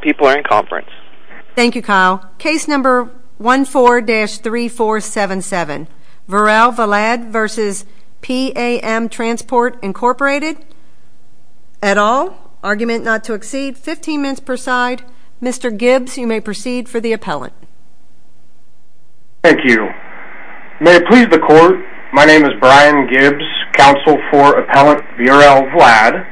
People are in conference. Thank you, Kyle. Case number 14-3477, Vorel Vlad v. P A M Transport, Inc. et al. Argument not to exceed 15 minutes per side. Mr. Gibbs, you may proceed for the appellant. Thank you. May it please the court, my name is Brian Gibbs, counsel for appellant Vorel Vlad.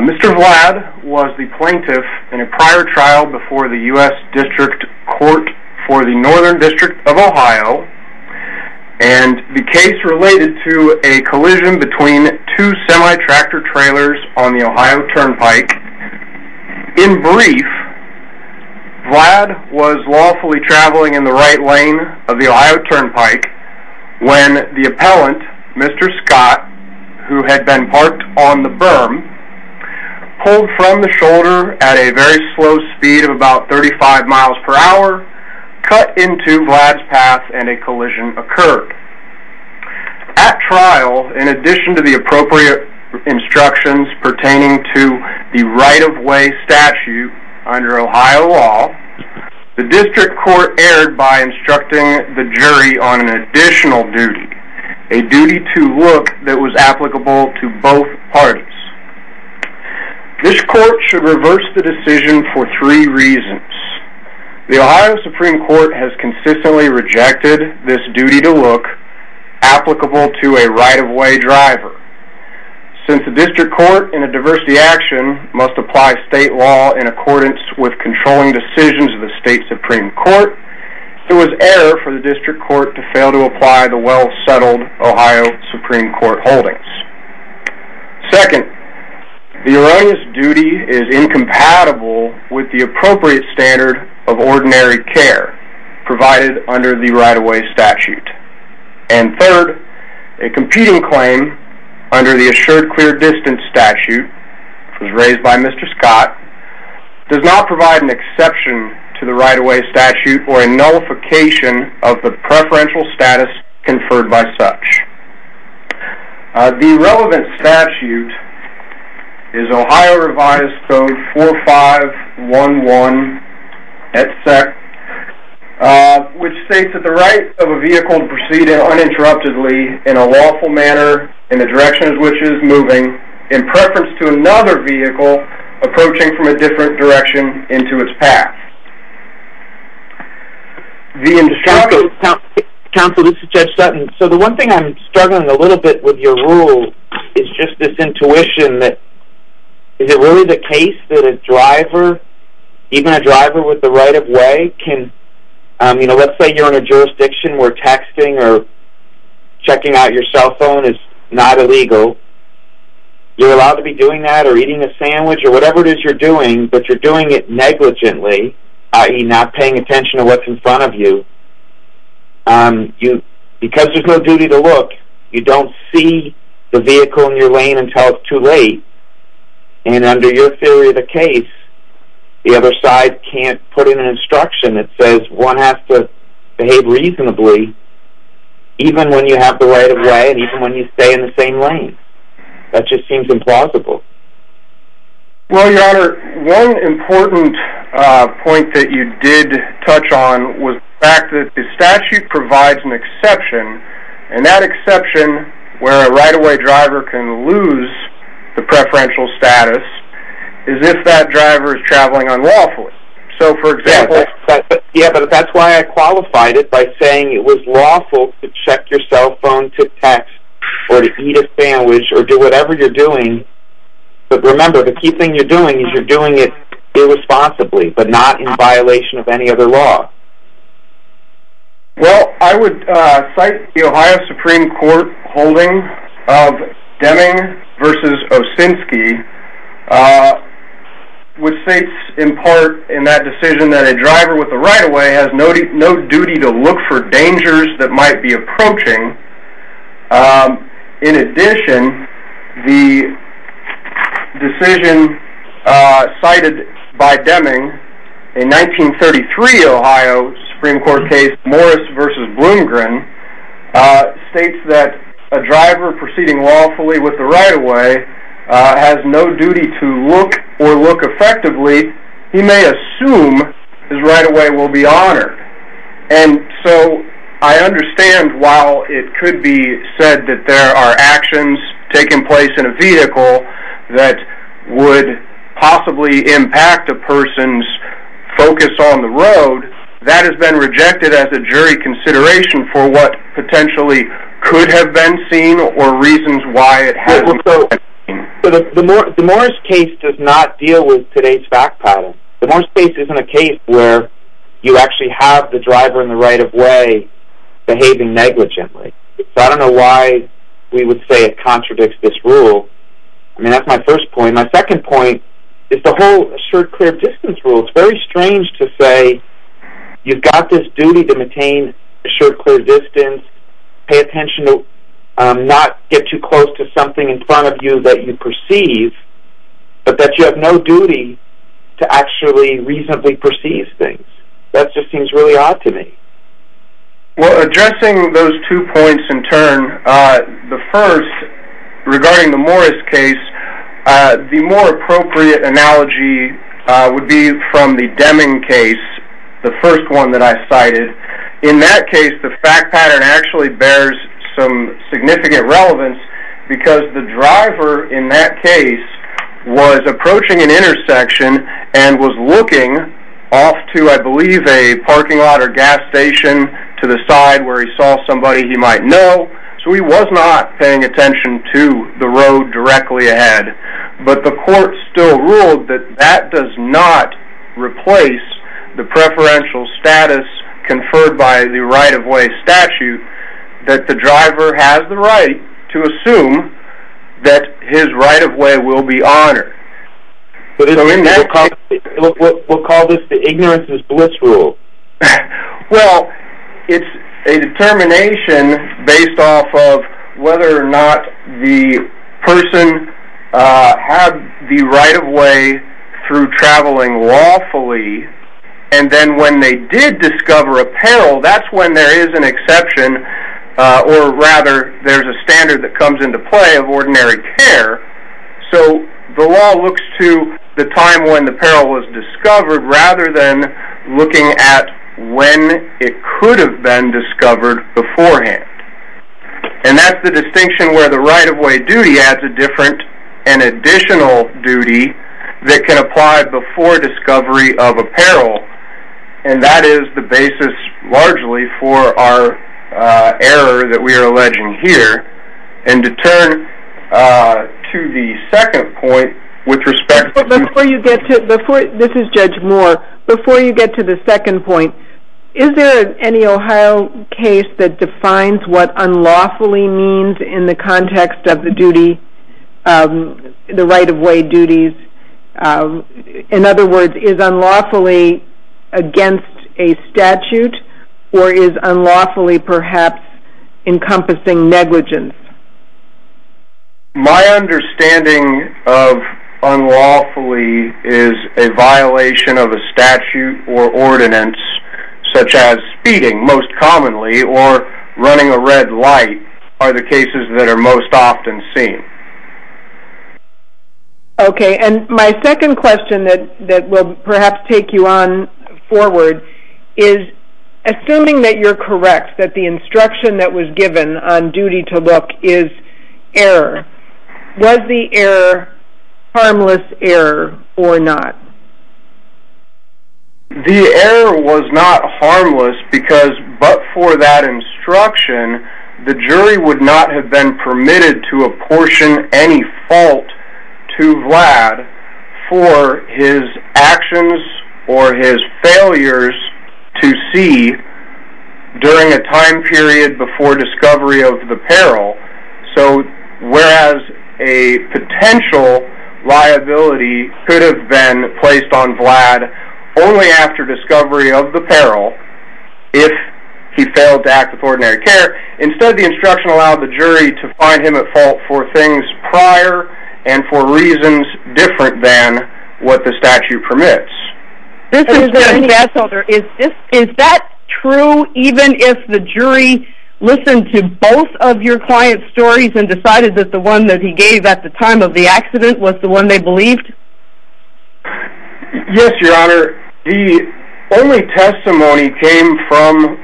Mr. Vlad was the plaintiff in a prior trial before the U.S. District Court for the Northern District of Ohio, and the case related to a collision between two semi-tractor trailers on the Ohio Turnpike. In brief, Vlad was lawfully traveling in the right lane of the Ohio Turnpike when the trailer pulled from the shoulder at a very slow speed of about 35 miles per hour, cut into Vlad's path, and a collision occurred. At trial, in addition to the appropriate instructions pertaining to the right-of-way statute under Ohio law, the District Court erred by instructing the jury on an additional duty, a duty to look that was applicable to both parties. This court should reverse the decision for three reasons. The Ohio Supreme Court has consistently rejected this duty to look applicable to a right-of-way driver. Since the District Court in a diversity action must apply state law in accordance with controlling decisions of the State Supreme Court, it was error for the District Court to fail to apply the well-settled Ohio Supreme Court holdings. Second, the erroneous duty is incompatible with the appropriate standard of ordinary care provided under the right-of-way statute. And third, a competing claim under the assured clear distance statute, which was raised by Mr. Scott, does not provide an exception to the right-of-way statute or a nullification of the preferential status conferred by such. The relevant statute is Ohio Revised Code 4511, which states that the right of a vehicle to proceed uninterruptedly in a lawful manner in the direction in which it is moving, in preference to another vehicle approaching from a different direction into its path. Counsel, this is Judge Sutton. So the one thing I'm struggling a little bit with your rule is just this intuition that is it really the case that a driver, even a driver with the right-of-way can, you know, let's say you're in a jurisdiction where texting or checking out your cell phone is not illegal. You're allowed to be doing that or eating a sandwich or whatever it is you're doing, but you're doing it negligently, i.e. not paying attention to what's in front of you. Because there's no duty to look, you don't see the vehicle in your lane until it's too late. And under your theory of the case, the other side can't put in an instruction that says one has to behave reasonably, even when you have the right-of-way and even when you stay in the same Well, your honor, one important point that you did touch on was the fact that the statute provides an exception, and that exception where a right-of-way driver can lose the preferential status is if that driver is traveling unlawfully. So for example... Yeah, but that's why I qualified it by saying it was lawful to check your cell phone to text or to eat a sandwich or do whatever you're doing, but remember the key thing you're doing is you're doing it irresponsibly, but not in violation of any other law. Well, I would cite the Ohio Supreme Court holding of Deming v. Osinski, which states in part in that decision that a driver with a right-of-way has no duty to look for dangers that might be approaching. In addition, the decision cited by Deming in 1933 Ohio Supreme Court case Morris v. Bloomgren states that a driver proceeding lawfully with the right-of-way has no duty to look or look effectively. He may assume his right-of-way will be honored, and so I understand while it could be said that there are actions taking place in a vehicle that would possibly impact a person's focus on the road, that has been rejected as a jury consideration for what potentially could have been seen or why it has. The Morris case does not deal with today's fact pattern. The Morris case isn't a case where you actually have the driver in the right-of-way behaving negligently, so I don't know why we would say it contradicts this rule. I mean that's my first point. My second point is the whole assured clear distance rule. It's very strange to say you've got this duty to close to something in front of you that you perceive, but that you have no duty to actually reasonably perceive things. That just seems really odd to me. Well, addressing those two points in turn, the first regarding the Morris case, the more appropriate analogy would be from the Deming case, the first one that I cited. In that case, the fact pattern actually bears some significant relevance because the driver in that case was approaching an intersection and was looking off to, I believe, a parking lot or gas station to the side where he saw somebody he might know, so he was not paying attention to the road directly ahead, but the court still ruled that that does not replace the preferential status conferred by the right-of-way statute that the to assume that his right-of-way will be honored. We'll call this the ignorance is bliss rule. Well, it's a determination based off of whether or not the person had the right-of-way through traveling lawfully, and then when they did discover apparel, that's when there is an exception, or rather, there's a standard that comes into play of ordinary care, so the law looks to the time when the apparel was discovered rather than looking at when it could have been discovered beforehand, and that's the distinction where the right-of-way duty adds a different and additional duty that can apply before discovery of apparel, and that is the basis largely for our error that we are alleging here, and to turn to the second point with respect to... This is Judge Moore. Before you get to the second point, is there any Ohio case that defines what unlawfully means in the context of the duty, the right-of-way duties? In other words, is unlawfully against a statute, or is unlawfully perhaps encompassing negligence? My understanding of unlawfully is a violation of a statute or ordinance, such as speeding, most commonly, or running a red light are the cases that are most often seen. Okay, and my second question that will perhaps take you on forward is, assuming that you're correct, that the instruction that was given on duty to look is error, was the error harmless error or not? The error was not harmless because but for that instruction, the jury would not have been permitted to apportion any fault to Vlad for his actions or his failures to see during a time period before discovery of the peril. So whereas a potential liability could have been placed on Vlad only after discovery of the peril, if he failed to act with ordinary care, instead the instruction allowed the jury to find him at fault for things prior and for reasons different than what the statute permits. Is that true even if the jury listened to both of your client's stories and decided that the one that he gave at the time of the accident was the one they believed? Yes, your honor. The only testimony came from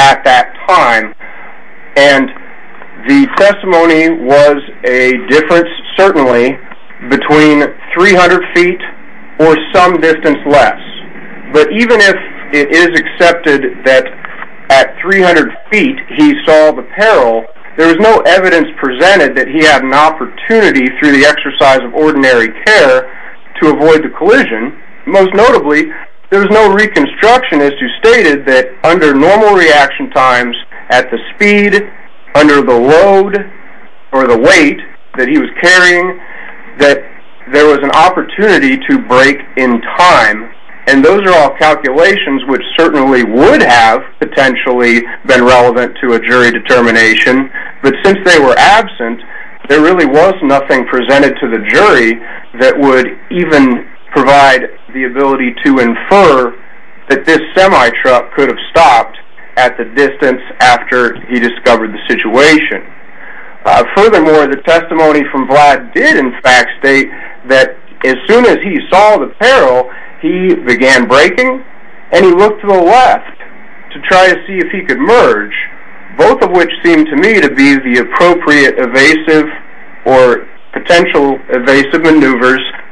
at that time and the testimony was a difference certainly between 300 feet or some distance less. But even if it is accepted that at 300 feet he saw the peril, there was no evidence presented that he had an opportunity through the exercise of ordinary care to avoid the collision. Most notably, there was no reconstructionist who stated that under normal reaction times at the speed, under the load, or the weight that he was carrying, that there was an opportunity to break in time. And those are all calculations which certainly would have potentially been relevant to a jury determination. But since they were absent, there really was nothing presented to the jury that even provide the ability to infer that this semi-truck could have stopped at the distance after he discovered the situation. Furthermore, the testimony from Vlad did in fact state that as soon as he saw the peril, he began braking and he looked to the left to try to see if he could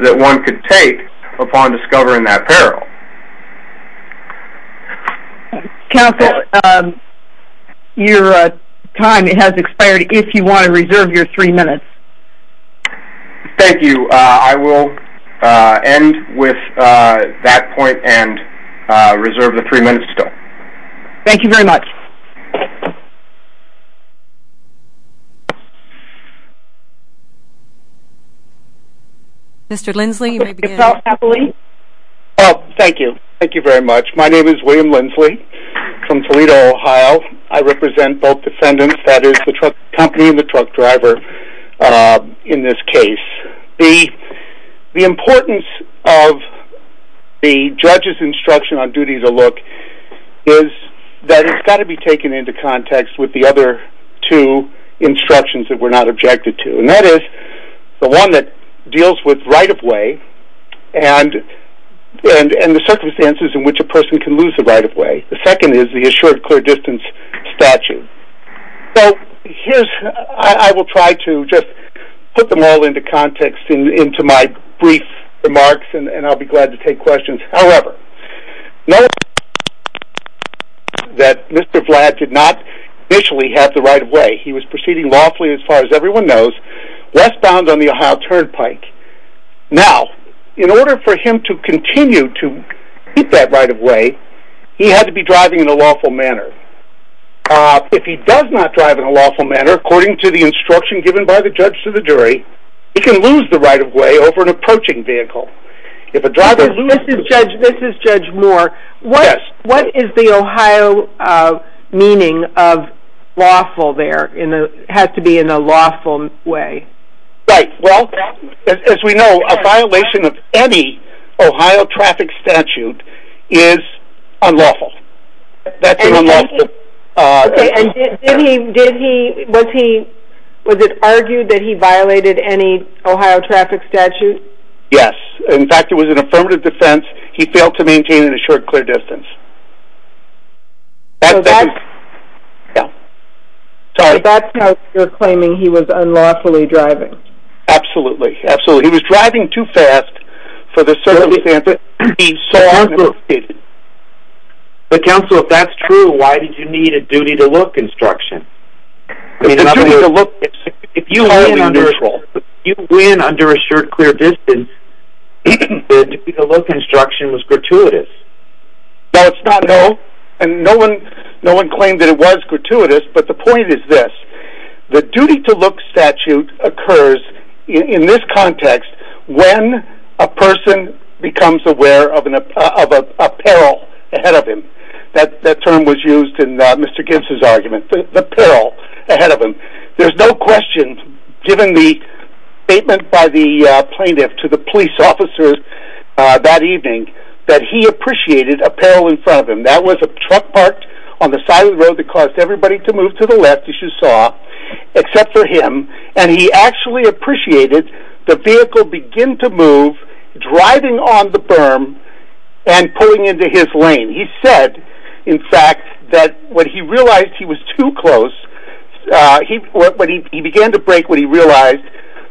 that one could take upon discovering that peril. Counsel, your time has expired. If you want to reserve your three minutes. Thank you. I will end with that point and reserve the three minutes still. Thank you very much. Okay. Mr. Lindsley, you may begin. Oh, thank you. Thank you very much. My name is William Lindsley from Toledo, Ohio. I represent both defendants, that is the truck company and the truck driver in this case. The importance of the judge's instruction on duty to look is that it's got to be taken into context with the other two instructions that we're not objected to. And that is the one that deals with right-of-way and the circumstances in which a person can lose the right-of-way. The second is the assured clear distance statute. So here's, I will try to just put them all into context into my brief remarks and I'll be glad to take questions. However, that Mr. Vlad did not initially have the right-of-way. He was proceeding lawfully as far as everyone knows, westbound on the Ohio Turnpike. Now, in order for him to continue to keep that right-of-way, he had to be driving in a lawful manner. If he does not drive in a lawful manner, according to the instruction given by the judge to the jury, he can lose the right-of-way over an approaching vehicle. This is Judge Moore. What is the Ohio meaning of lawful there? It has to be in a lawful way. Right. Well, as we know, a violation of any Ohio traffic statute is unlawful. And did he, was it argued that he violated any Ohio traffic statute? Yes. In fact, it was an affirmative defense. He failed to maintain an assured clear distance. Yeah. Sorry. That's how you're claiming he was unlawfully driving. Absolutely. Absolutely. He was driving too fast for the circumstances. So, counsel, if that's true, why did you need a duty to look instruction? If you win under assured clear distance, the duty to look instruction was gratuitous. No, it's not. No. And no one, no one claimed that it was gratuitous. But the point is this, the duty to look statute occurs in this context when a person becomes aware of a peril ahead of him. That term was used in Mr. Gibbs's argument, the peril ahead of him. There's no question, given the statement by the plaintiff to the police officers that evening, that he appreciated a peril in front of him. That was a truck parked on the side of the road that caused everybody to move to the left, as you saw, except for him. And he actually appreciated the vehicle begin to move, driving on the berm and pulling into his lane. He said, in fact, that when he realized he was too close, he began to brake when he realized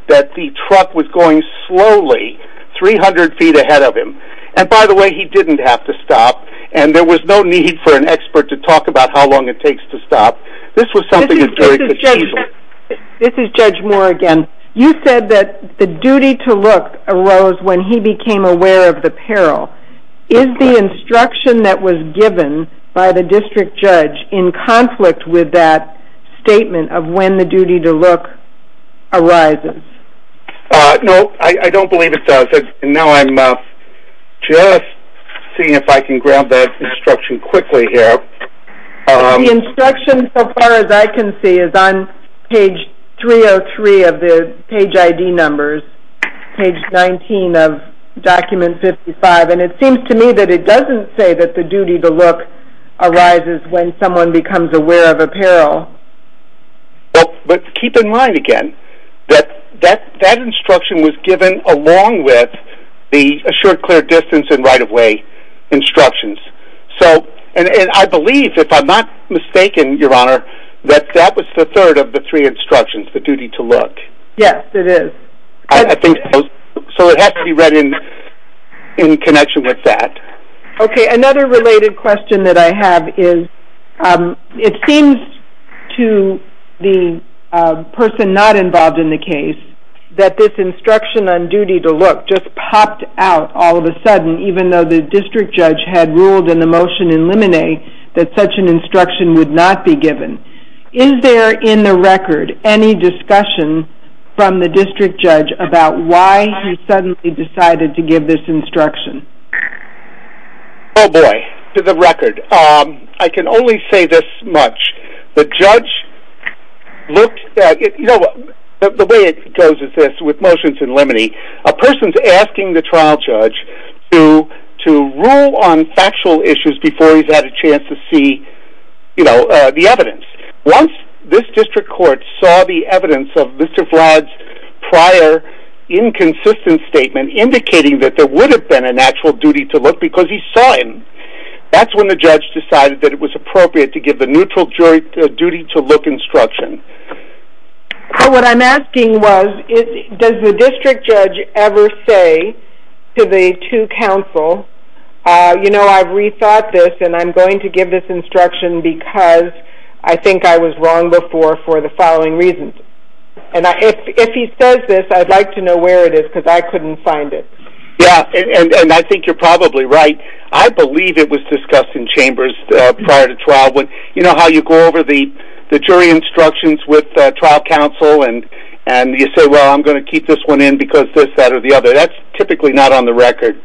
that the truck was going slowly 300 feet ahead of him. And by the way, he didn't have to stop. And there was no need for an expert to talk about how long it takes to stop. This was something that's very conceivable. This is Judge Moore again. You said that the duty to look arose when he became aware of the peril. Is the instruction that was given by the district judge in conflict with that statement of when the duty to look arises? No, I don't believe it does. And now I'm just seeing if I can grab that quickly here. The instruction, so far as I can see, is on page 303 of the page ID numbers, page 19 of document 55. And it seems to me that it doesn't say that the duty to look arises when someone becomes aware of a peril. But keep in mind, again, that that instruction was given along with the assured clear distance and right-of-way instructions. And I believe, if I'm not mistaken, Your Honor, that that was the third of the three instructions, the duty to look. Yes, it is. So it has to be read in connection with that. Okay, another related question that I have is, it seems to the person not involved in the case that this instruction on duty to look just popped out all of a sudden, even though the district judge had ruled in the motion in limine that such an instruction would not be given. Is there, in the record, any discussion from the district judge about why he suddenly decided to give this instruction? Oh boy, to the record. I can only say this much. The judge looked at it, the way it goes is this, with motions in limine, a person's asking the trial judge to rule on factual issues before he's had a chance to see, you know, the evidence. Once this district court saw the evidence of Mr. Vlad's prior inconsistent statement indicating that there would have been a natural duty to look because he saw him, that's when the judge decided that it was appropriate to give the neutral duty to look instruction. So what I'm asking was, does the district judge ever say to the two counsel, you know, I've rethought this and I'm going to give this instruction because I think I was wrong before for the following reasons. And if he says this, I'd like to know where it is because I couldn't find it. Yeah, and I think you're probably right. I believe it was discussed in chambers prior to trial. You know how you go over the jury instructions with trial counsel and you say, well, I'm going to keep this one in because this, that, or the other. That's typically not on the record.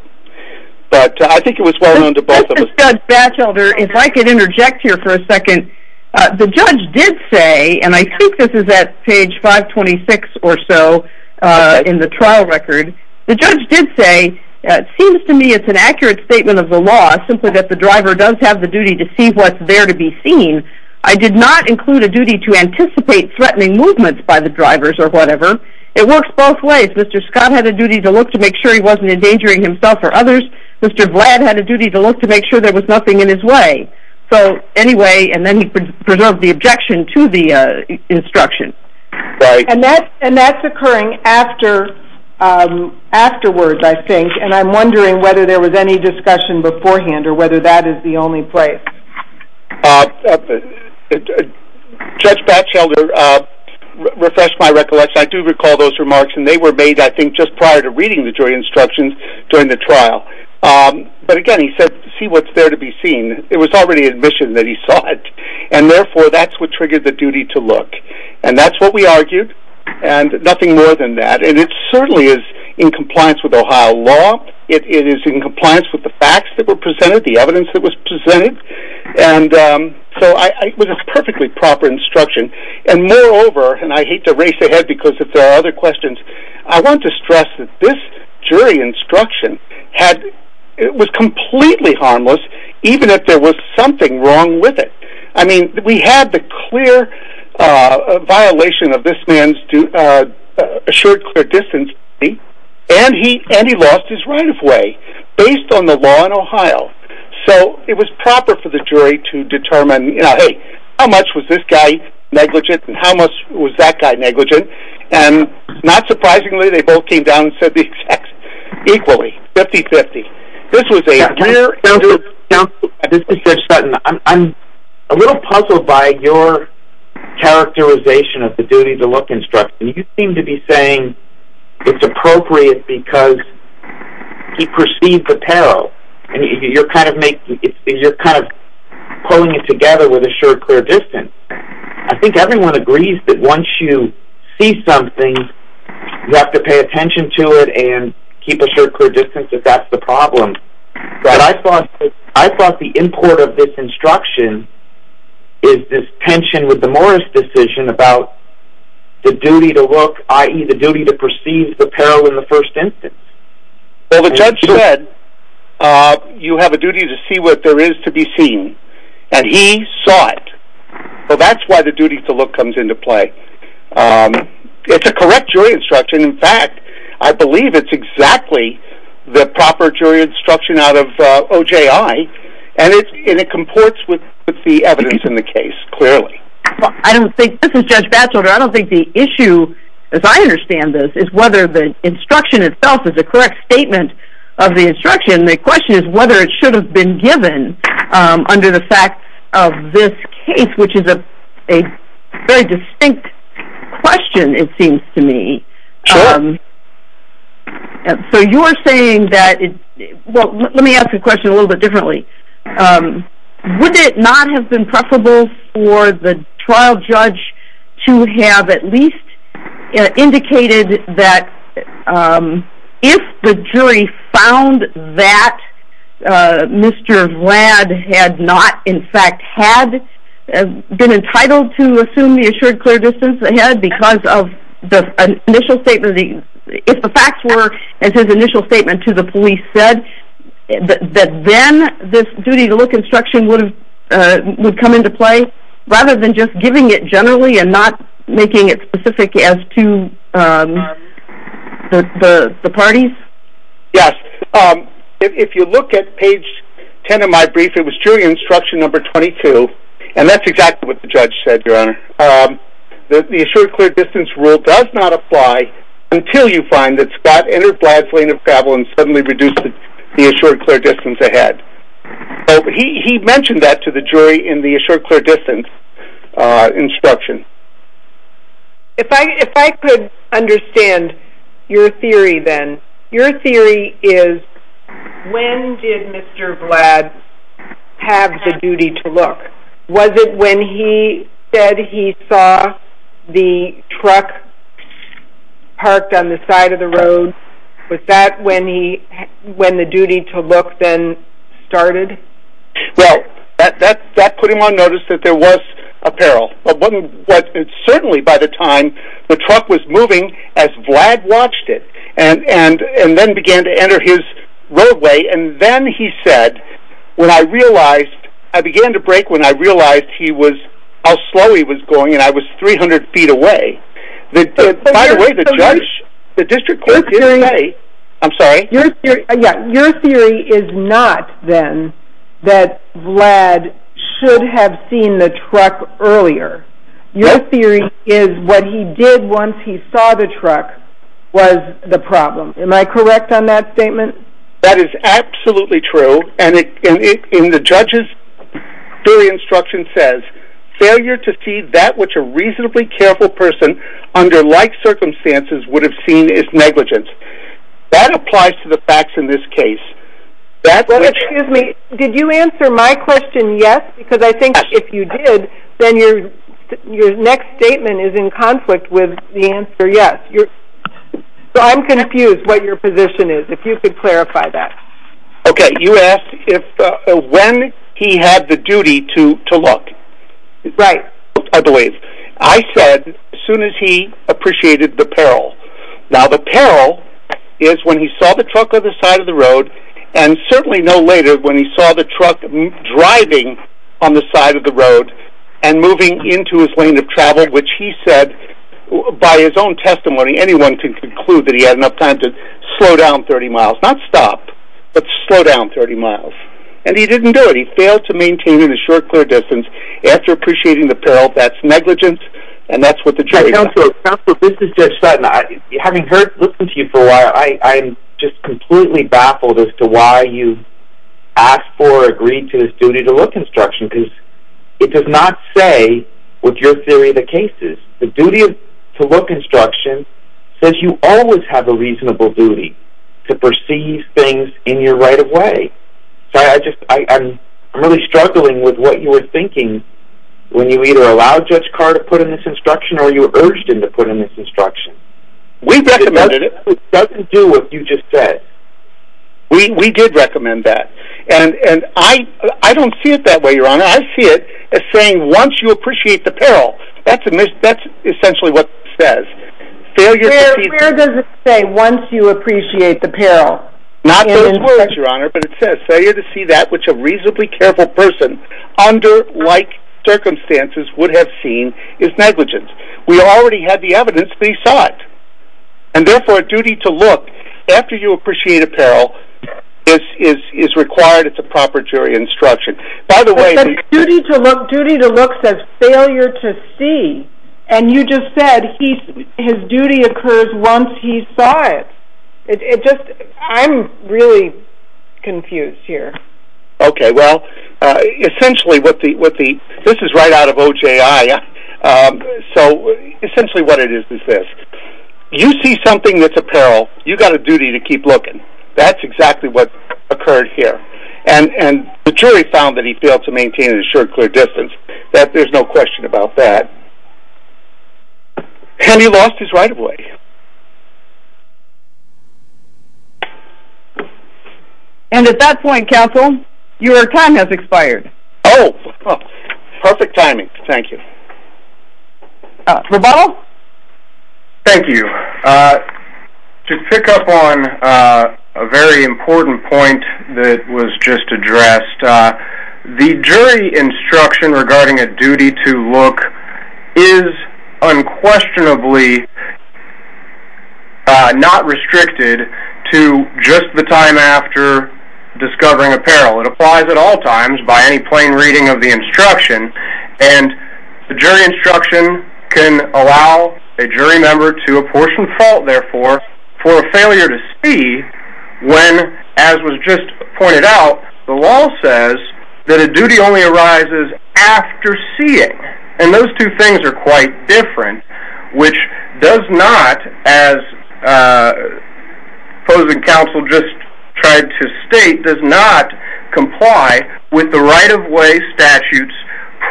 But I think it was well known to both of us. Judge Batchelder, if I could interject here for a second. The judge did say, and I think this is at page 526 or so in the trial record, the judge did say, it seems to me it's an accurate statement of the law simply that the driver does have the duty to see what's there to be seen. I did not include a duty to anticipate threatening movements by the drivers or whatever. It works both ways. Mr. Scott had a duty to look to make sure he wasn't endangering himself or others. Mr. Vlad had a duty to look to make sure there was nothing in his way. So anyway, and then he preserved the objection to the instruction. Right. And that's occurring after afterwards, I think. And I'm wondering whether there was any discussion beforehand or whether that is the only place. Judge Batchelder refreshed my recollection. I do recall those remarks and they were made, I think, just prior to reading the jury instructions during the trial. But again, he said, see what's there to be seen. It was already admission that he saw it and therefore that's what triggered the duty to look. And that's what we argued. And nothing more than that. And it certainly is in compliance with Ohio law. It is in compliance with the facts that were presented, the evidence that was presented. And so it was a perfectly proper instruction. And moreover, and I hate to race ahead because if there are other questions, I want to stress that this jury instruction had, it was completely harmless, even if there was something wrong with it. I mean, we had the clear violation of this man's assured clear distance. And he and he lost his right of way based on the law in Ohio. So it was proper for the jury to determine, hey, how much was this guy negligent? And how much was that guy negligent? And not surprisingly, they both came down and said the equally 50 50. This was a little puzzled by your characterization of the duty to look instruction, you seem to be saying it's appropriate because he perceived the peril. And you're kind of making you're kind of pulling it together with a short, clear distance. I think everyone agrees that once you see something, you have to pay attention to it and keep a short, clear distance if that's the problem. But I thought I thought the import of this instruction is this tension with the Morris decision about the duty to look ie the duty to perceive the peril in the first instance. Well, the judge said, you have a duty to see what there is to be seen. And he saw it. So that's why the duty to look comes into play. It's a correct jury instruction. In fact, I believe it's exactly the proper jury instruction out of OJI. And it's in it comports with the evidence in the case clearly. I don't think this is Judge Batchelder. I don't think the issue is I understand this is whether the instruction itself is a correct statement of the instruction. The question is whether it should have been given under the fact of this case, which is a very distinct question, it seems to me. So you're saying that? Well, let me ask you a question a little bit differently. Would it not have been preferable for the trial judge to have at least indicated that um, if the jury found that Mr. Vlad had not in fact had been entitled to assume the assured clear distance ahead because of the initial statement, if the facts were as his initial statement to the police said that then this duty to look instruction would have come into play, rather than just giving it generally and not making it specific as to the parties? Yes. If you look at page 10 of my brief, it was jury instruction number 22. And that's exactly what the judge said, Your Honor. The assured clear distance rule does not apply until you find that Scott entered Vlad's lane of travel and suddenly reduced the assured clear distance ahead. He mentioned that to the jury in the assured clear distance instruction. If I if I could understand your theory, then your theory is, when did Mr. Vlad have the duty to look? Was it when he said he saw the truck parked on the side of the road? Was that when he when the duty to look then started? Well, that that that put him on notice that there was apparel but certainly by the time the truck was moving as Vlad watched it and and and then began to enter his roadway. And then he said, when I realized I began to break when I realized he was how slow he was going and I was 300 feet away. By the way, the judge, the district court did say, I'm sorry, your theory is not then that Vlad should have seen the truck earlier. Your theory is what he did once he saw the truck was the problem. Am I correct on that statement? That is absolutely true. And it in the judges theory instruction says, failure to see that which a reasonably careful person under like circumstances would have seen is negligence. That applies to the facts in this case. That's me. Did you answer my question? Yes, because I think if you did, then you're your next statement is in conflict with the answer. Yes, you're. So I'm confused what your position is, if you could clarify that. Okay, you asked if when he had the duty to to look, right? I believe I said as soon as he appreciated the peril. Now the peril is when he saw the truck on the side of the road. And certainly no later when he saw the truck driving on the side of the road, and moving into his lane of travel, which he said, by his own testimony, anyone can conclude that he had enough time to slow down 30 miles, not stop, but slow down 30 miles. And he didn't do it. He failed to maintain a short, clear distance. After appreciating the peril, that's negligence. And that's what the judge said. This is just having heard listen to you for a while. I'm just completely baffled as to why you asked for agreed to this duty to look instruction because it does not say with your theory of the cases, the duty to look instruction says you always have a reasonable duty to perceive things in your right of way. So I just I'm really struggling with what you were thinking. When you either allow judge car to put in this instruction, or you were urged him to put in this instruction. We recommended it doesn't do what you just said. We did recommend that. And and I, I don't see it that way. Your Honor, I see it as saying once you appreciate the peril, that's a mistake. That's essentially what says failure to say once you appreciate the peril, not those words, Your Honor, but it says failure to see that which a reasonably careful person under like circumstances would have seen is negligence. We already had the evidence, but he saw it. And therefore a duty to look after you appreciate a peril is is is required. It's a proper jury instruction. By the way, duty to look duty to look says failure to see. And you just essentially what the what the this is right out of OJI. So essentially, what it is is this, you see something that's a peril, you got a duty to keep looking. That's exactly what occurred here. And and the jury found that he failed to maintain a short, clear distance that there's no question about that. And he lost his right of way. And at that point, counsel, your time has expired. Oh, perfect timing. Thank you. Thank you. To pick up on a very important point that was just addressed. The jury instruction regarding a duty to look is unquestionably not restricted to just the time after discovering a peril. It applies at all times by any plain reading of the instruction. And the jury instruction can allow a jury member to apportion fault therefore, for a failure to see when, as was just pointed out, the law says that a duty only arises after seeing and those two things are quite different, which does not as opposing counsel just tried to state does not comply with the right of way statutes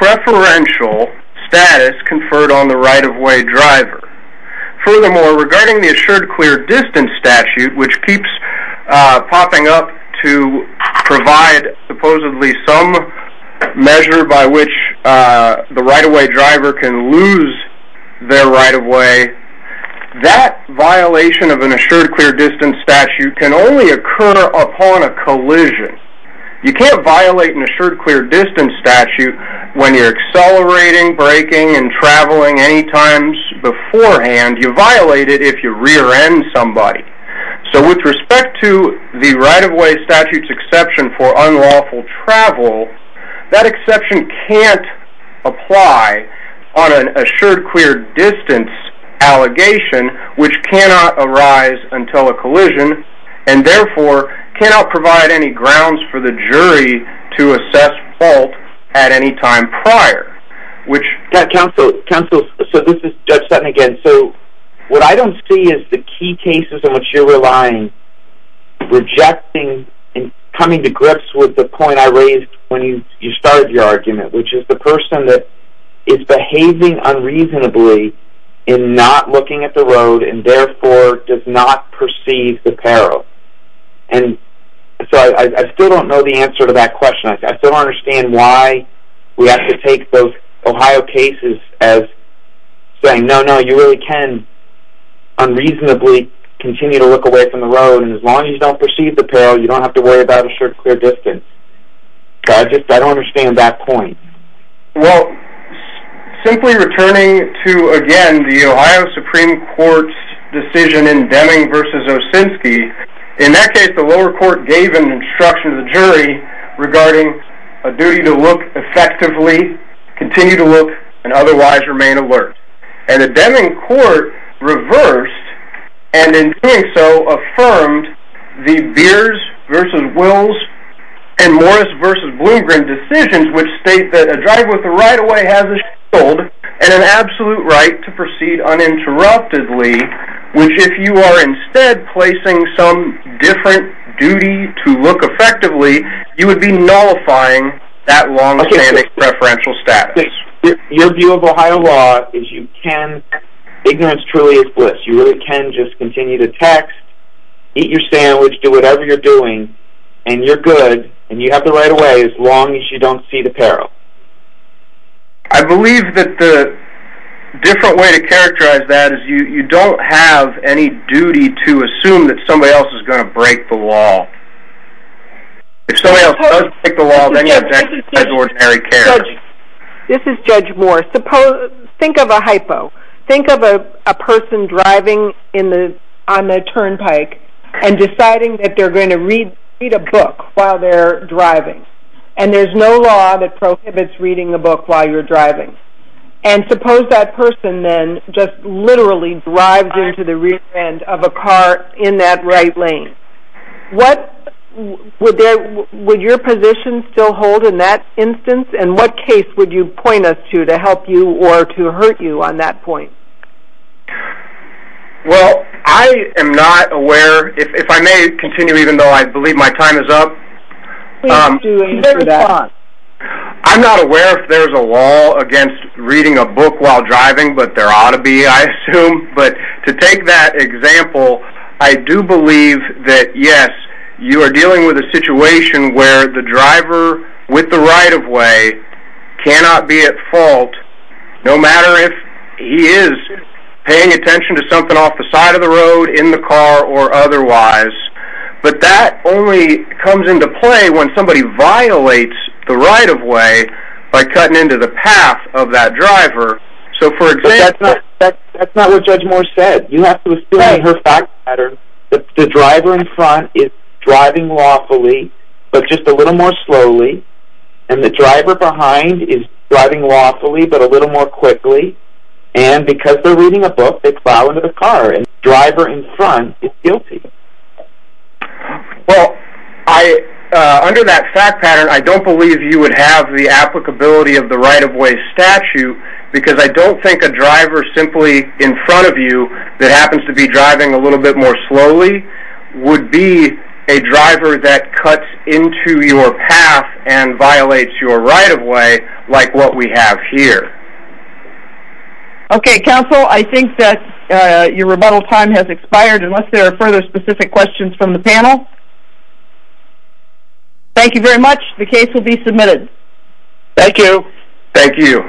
preferential status conferred on the right of way driver. Furthermore, regarding the provide supposedly some measure by which the right of way driver can lose their right of way, that violation of an assured clear distance statute can only occur upon a collision. You can't violate an assured clear distance statute when you're accelerating breaking and traveling any times beforehand, you violate it if you rear end somebody. So with respect to the right of way statutes exception for unlawful travel, that exception can't apply on an assured clear distance allegation, which cannot arise until a collision, and therefore cannot provide any grounds for the jury to assess fault at any time prior, which counsel counsel. So this is Judge Sutton again. What I don't see is the key cases in which you're relying, rejecting and coming to grips with the point I raised when you started your argument, which is the person that is behaving unreasonably in not looking at the road and therefore does not perceive the peril. And so I still don't know the answer to that question. I still don't understand why we have to take those Ohio cases as saying, you really can unreasonably continue to look away from the road. And as long as you don't perceive the peril, you don't have to worry about assured clear distance. I just I don't understand that point. Well, simply returning to again, the Ohio Supreme Court's decision in Deming versus Osinski, in that case, the lower court gave an instruction to the jury regarding a duty to look effectively, continue to look, and otherwise remain alert. And the Deming court reversed, and in doing so, affirmed the Beers versus Wills and Morris versus Bloomgren decisions, which state that a driver with the right of way has a shield and an absolute right to proceed uninterruptedly, which if you are instead placing some different duty to look effectively, you would be nullifying that long standing preferential status. Your view of Ohio law is you can, ignorance truly is bliss, you really can just continue to text, eat your sandwich, do whatever you're doing. And you're good. And you have the right of way as long as you don't see the peril. I believe that the different way to characterize that is you don't have any duty to assume that somebody else is taking care of you. This is Judge Moore. Think of a hypo. Think of a person driving on a turnpike, and deciding that they're going to read a book while they're driving. And there's no law that prohibits reading a book while you're driving. And suppose that person then just literally drives into the rear end of a car in that right lane. What would that would your position still hold in that instance? And what case would you point us to to help you or to hurt you on that point? Well, I am not aware if I may continue even though I believe my time is up. I'm not aware if there's a law against reading a book while driving, but there ought to be I assume. But to take that example, I do believe that yes, you are dealing with a situation where the driver with the right of way cannot be at fault, no matter if he is paying attention to something off the side of the road in the car or otherwise. But that only comes into play when somebody violates the right of way by cutting into the path of that driver. So for example... But that's not what Judge Moore said. You have to assume in her fact pattern that the driver in front is driving lawfully, but just a little more slowly. And the driver behind is driving lawfully, but a little more quickly. And because they're reading a book, they plow into the car. And the driver in front is guilty. Well, under that fact pattern, I don't believe you would have the applicability of the right of way statute, because I don't think a driver simply in front of you that happens to be driving a little bit more slowly would be a driver that cuts into your path and violates your right of way like what we have here. Okay, counsel, I think that your rebuttal time has expired. Unless there are other specific questions from the panel. Thank you very much. The case will be submitted. Thank you. Thank you.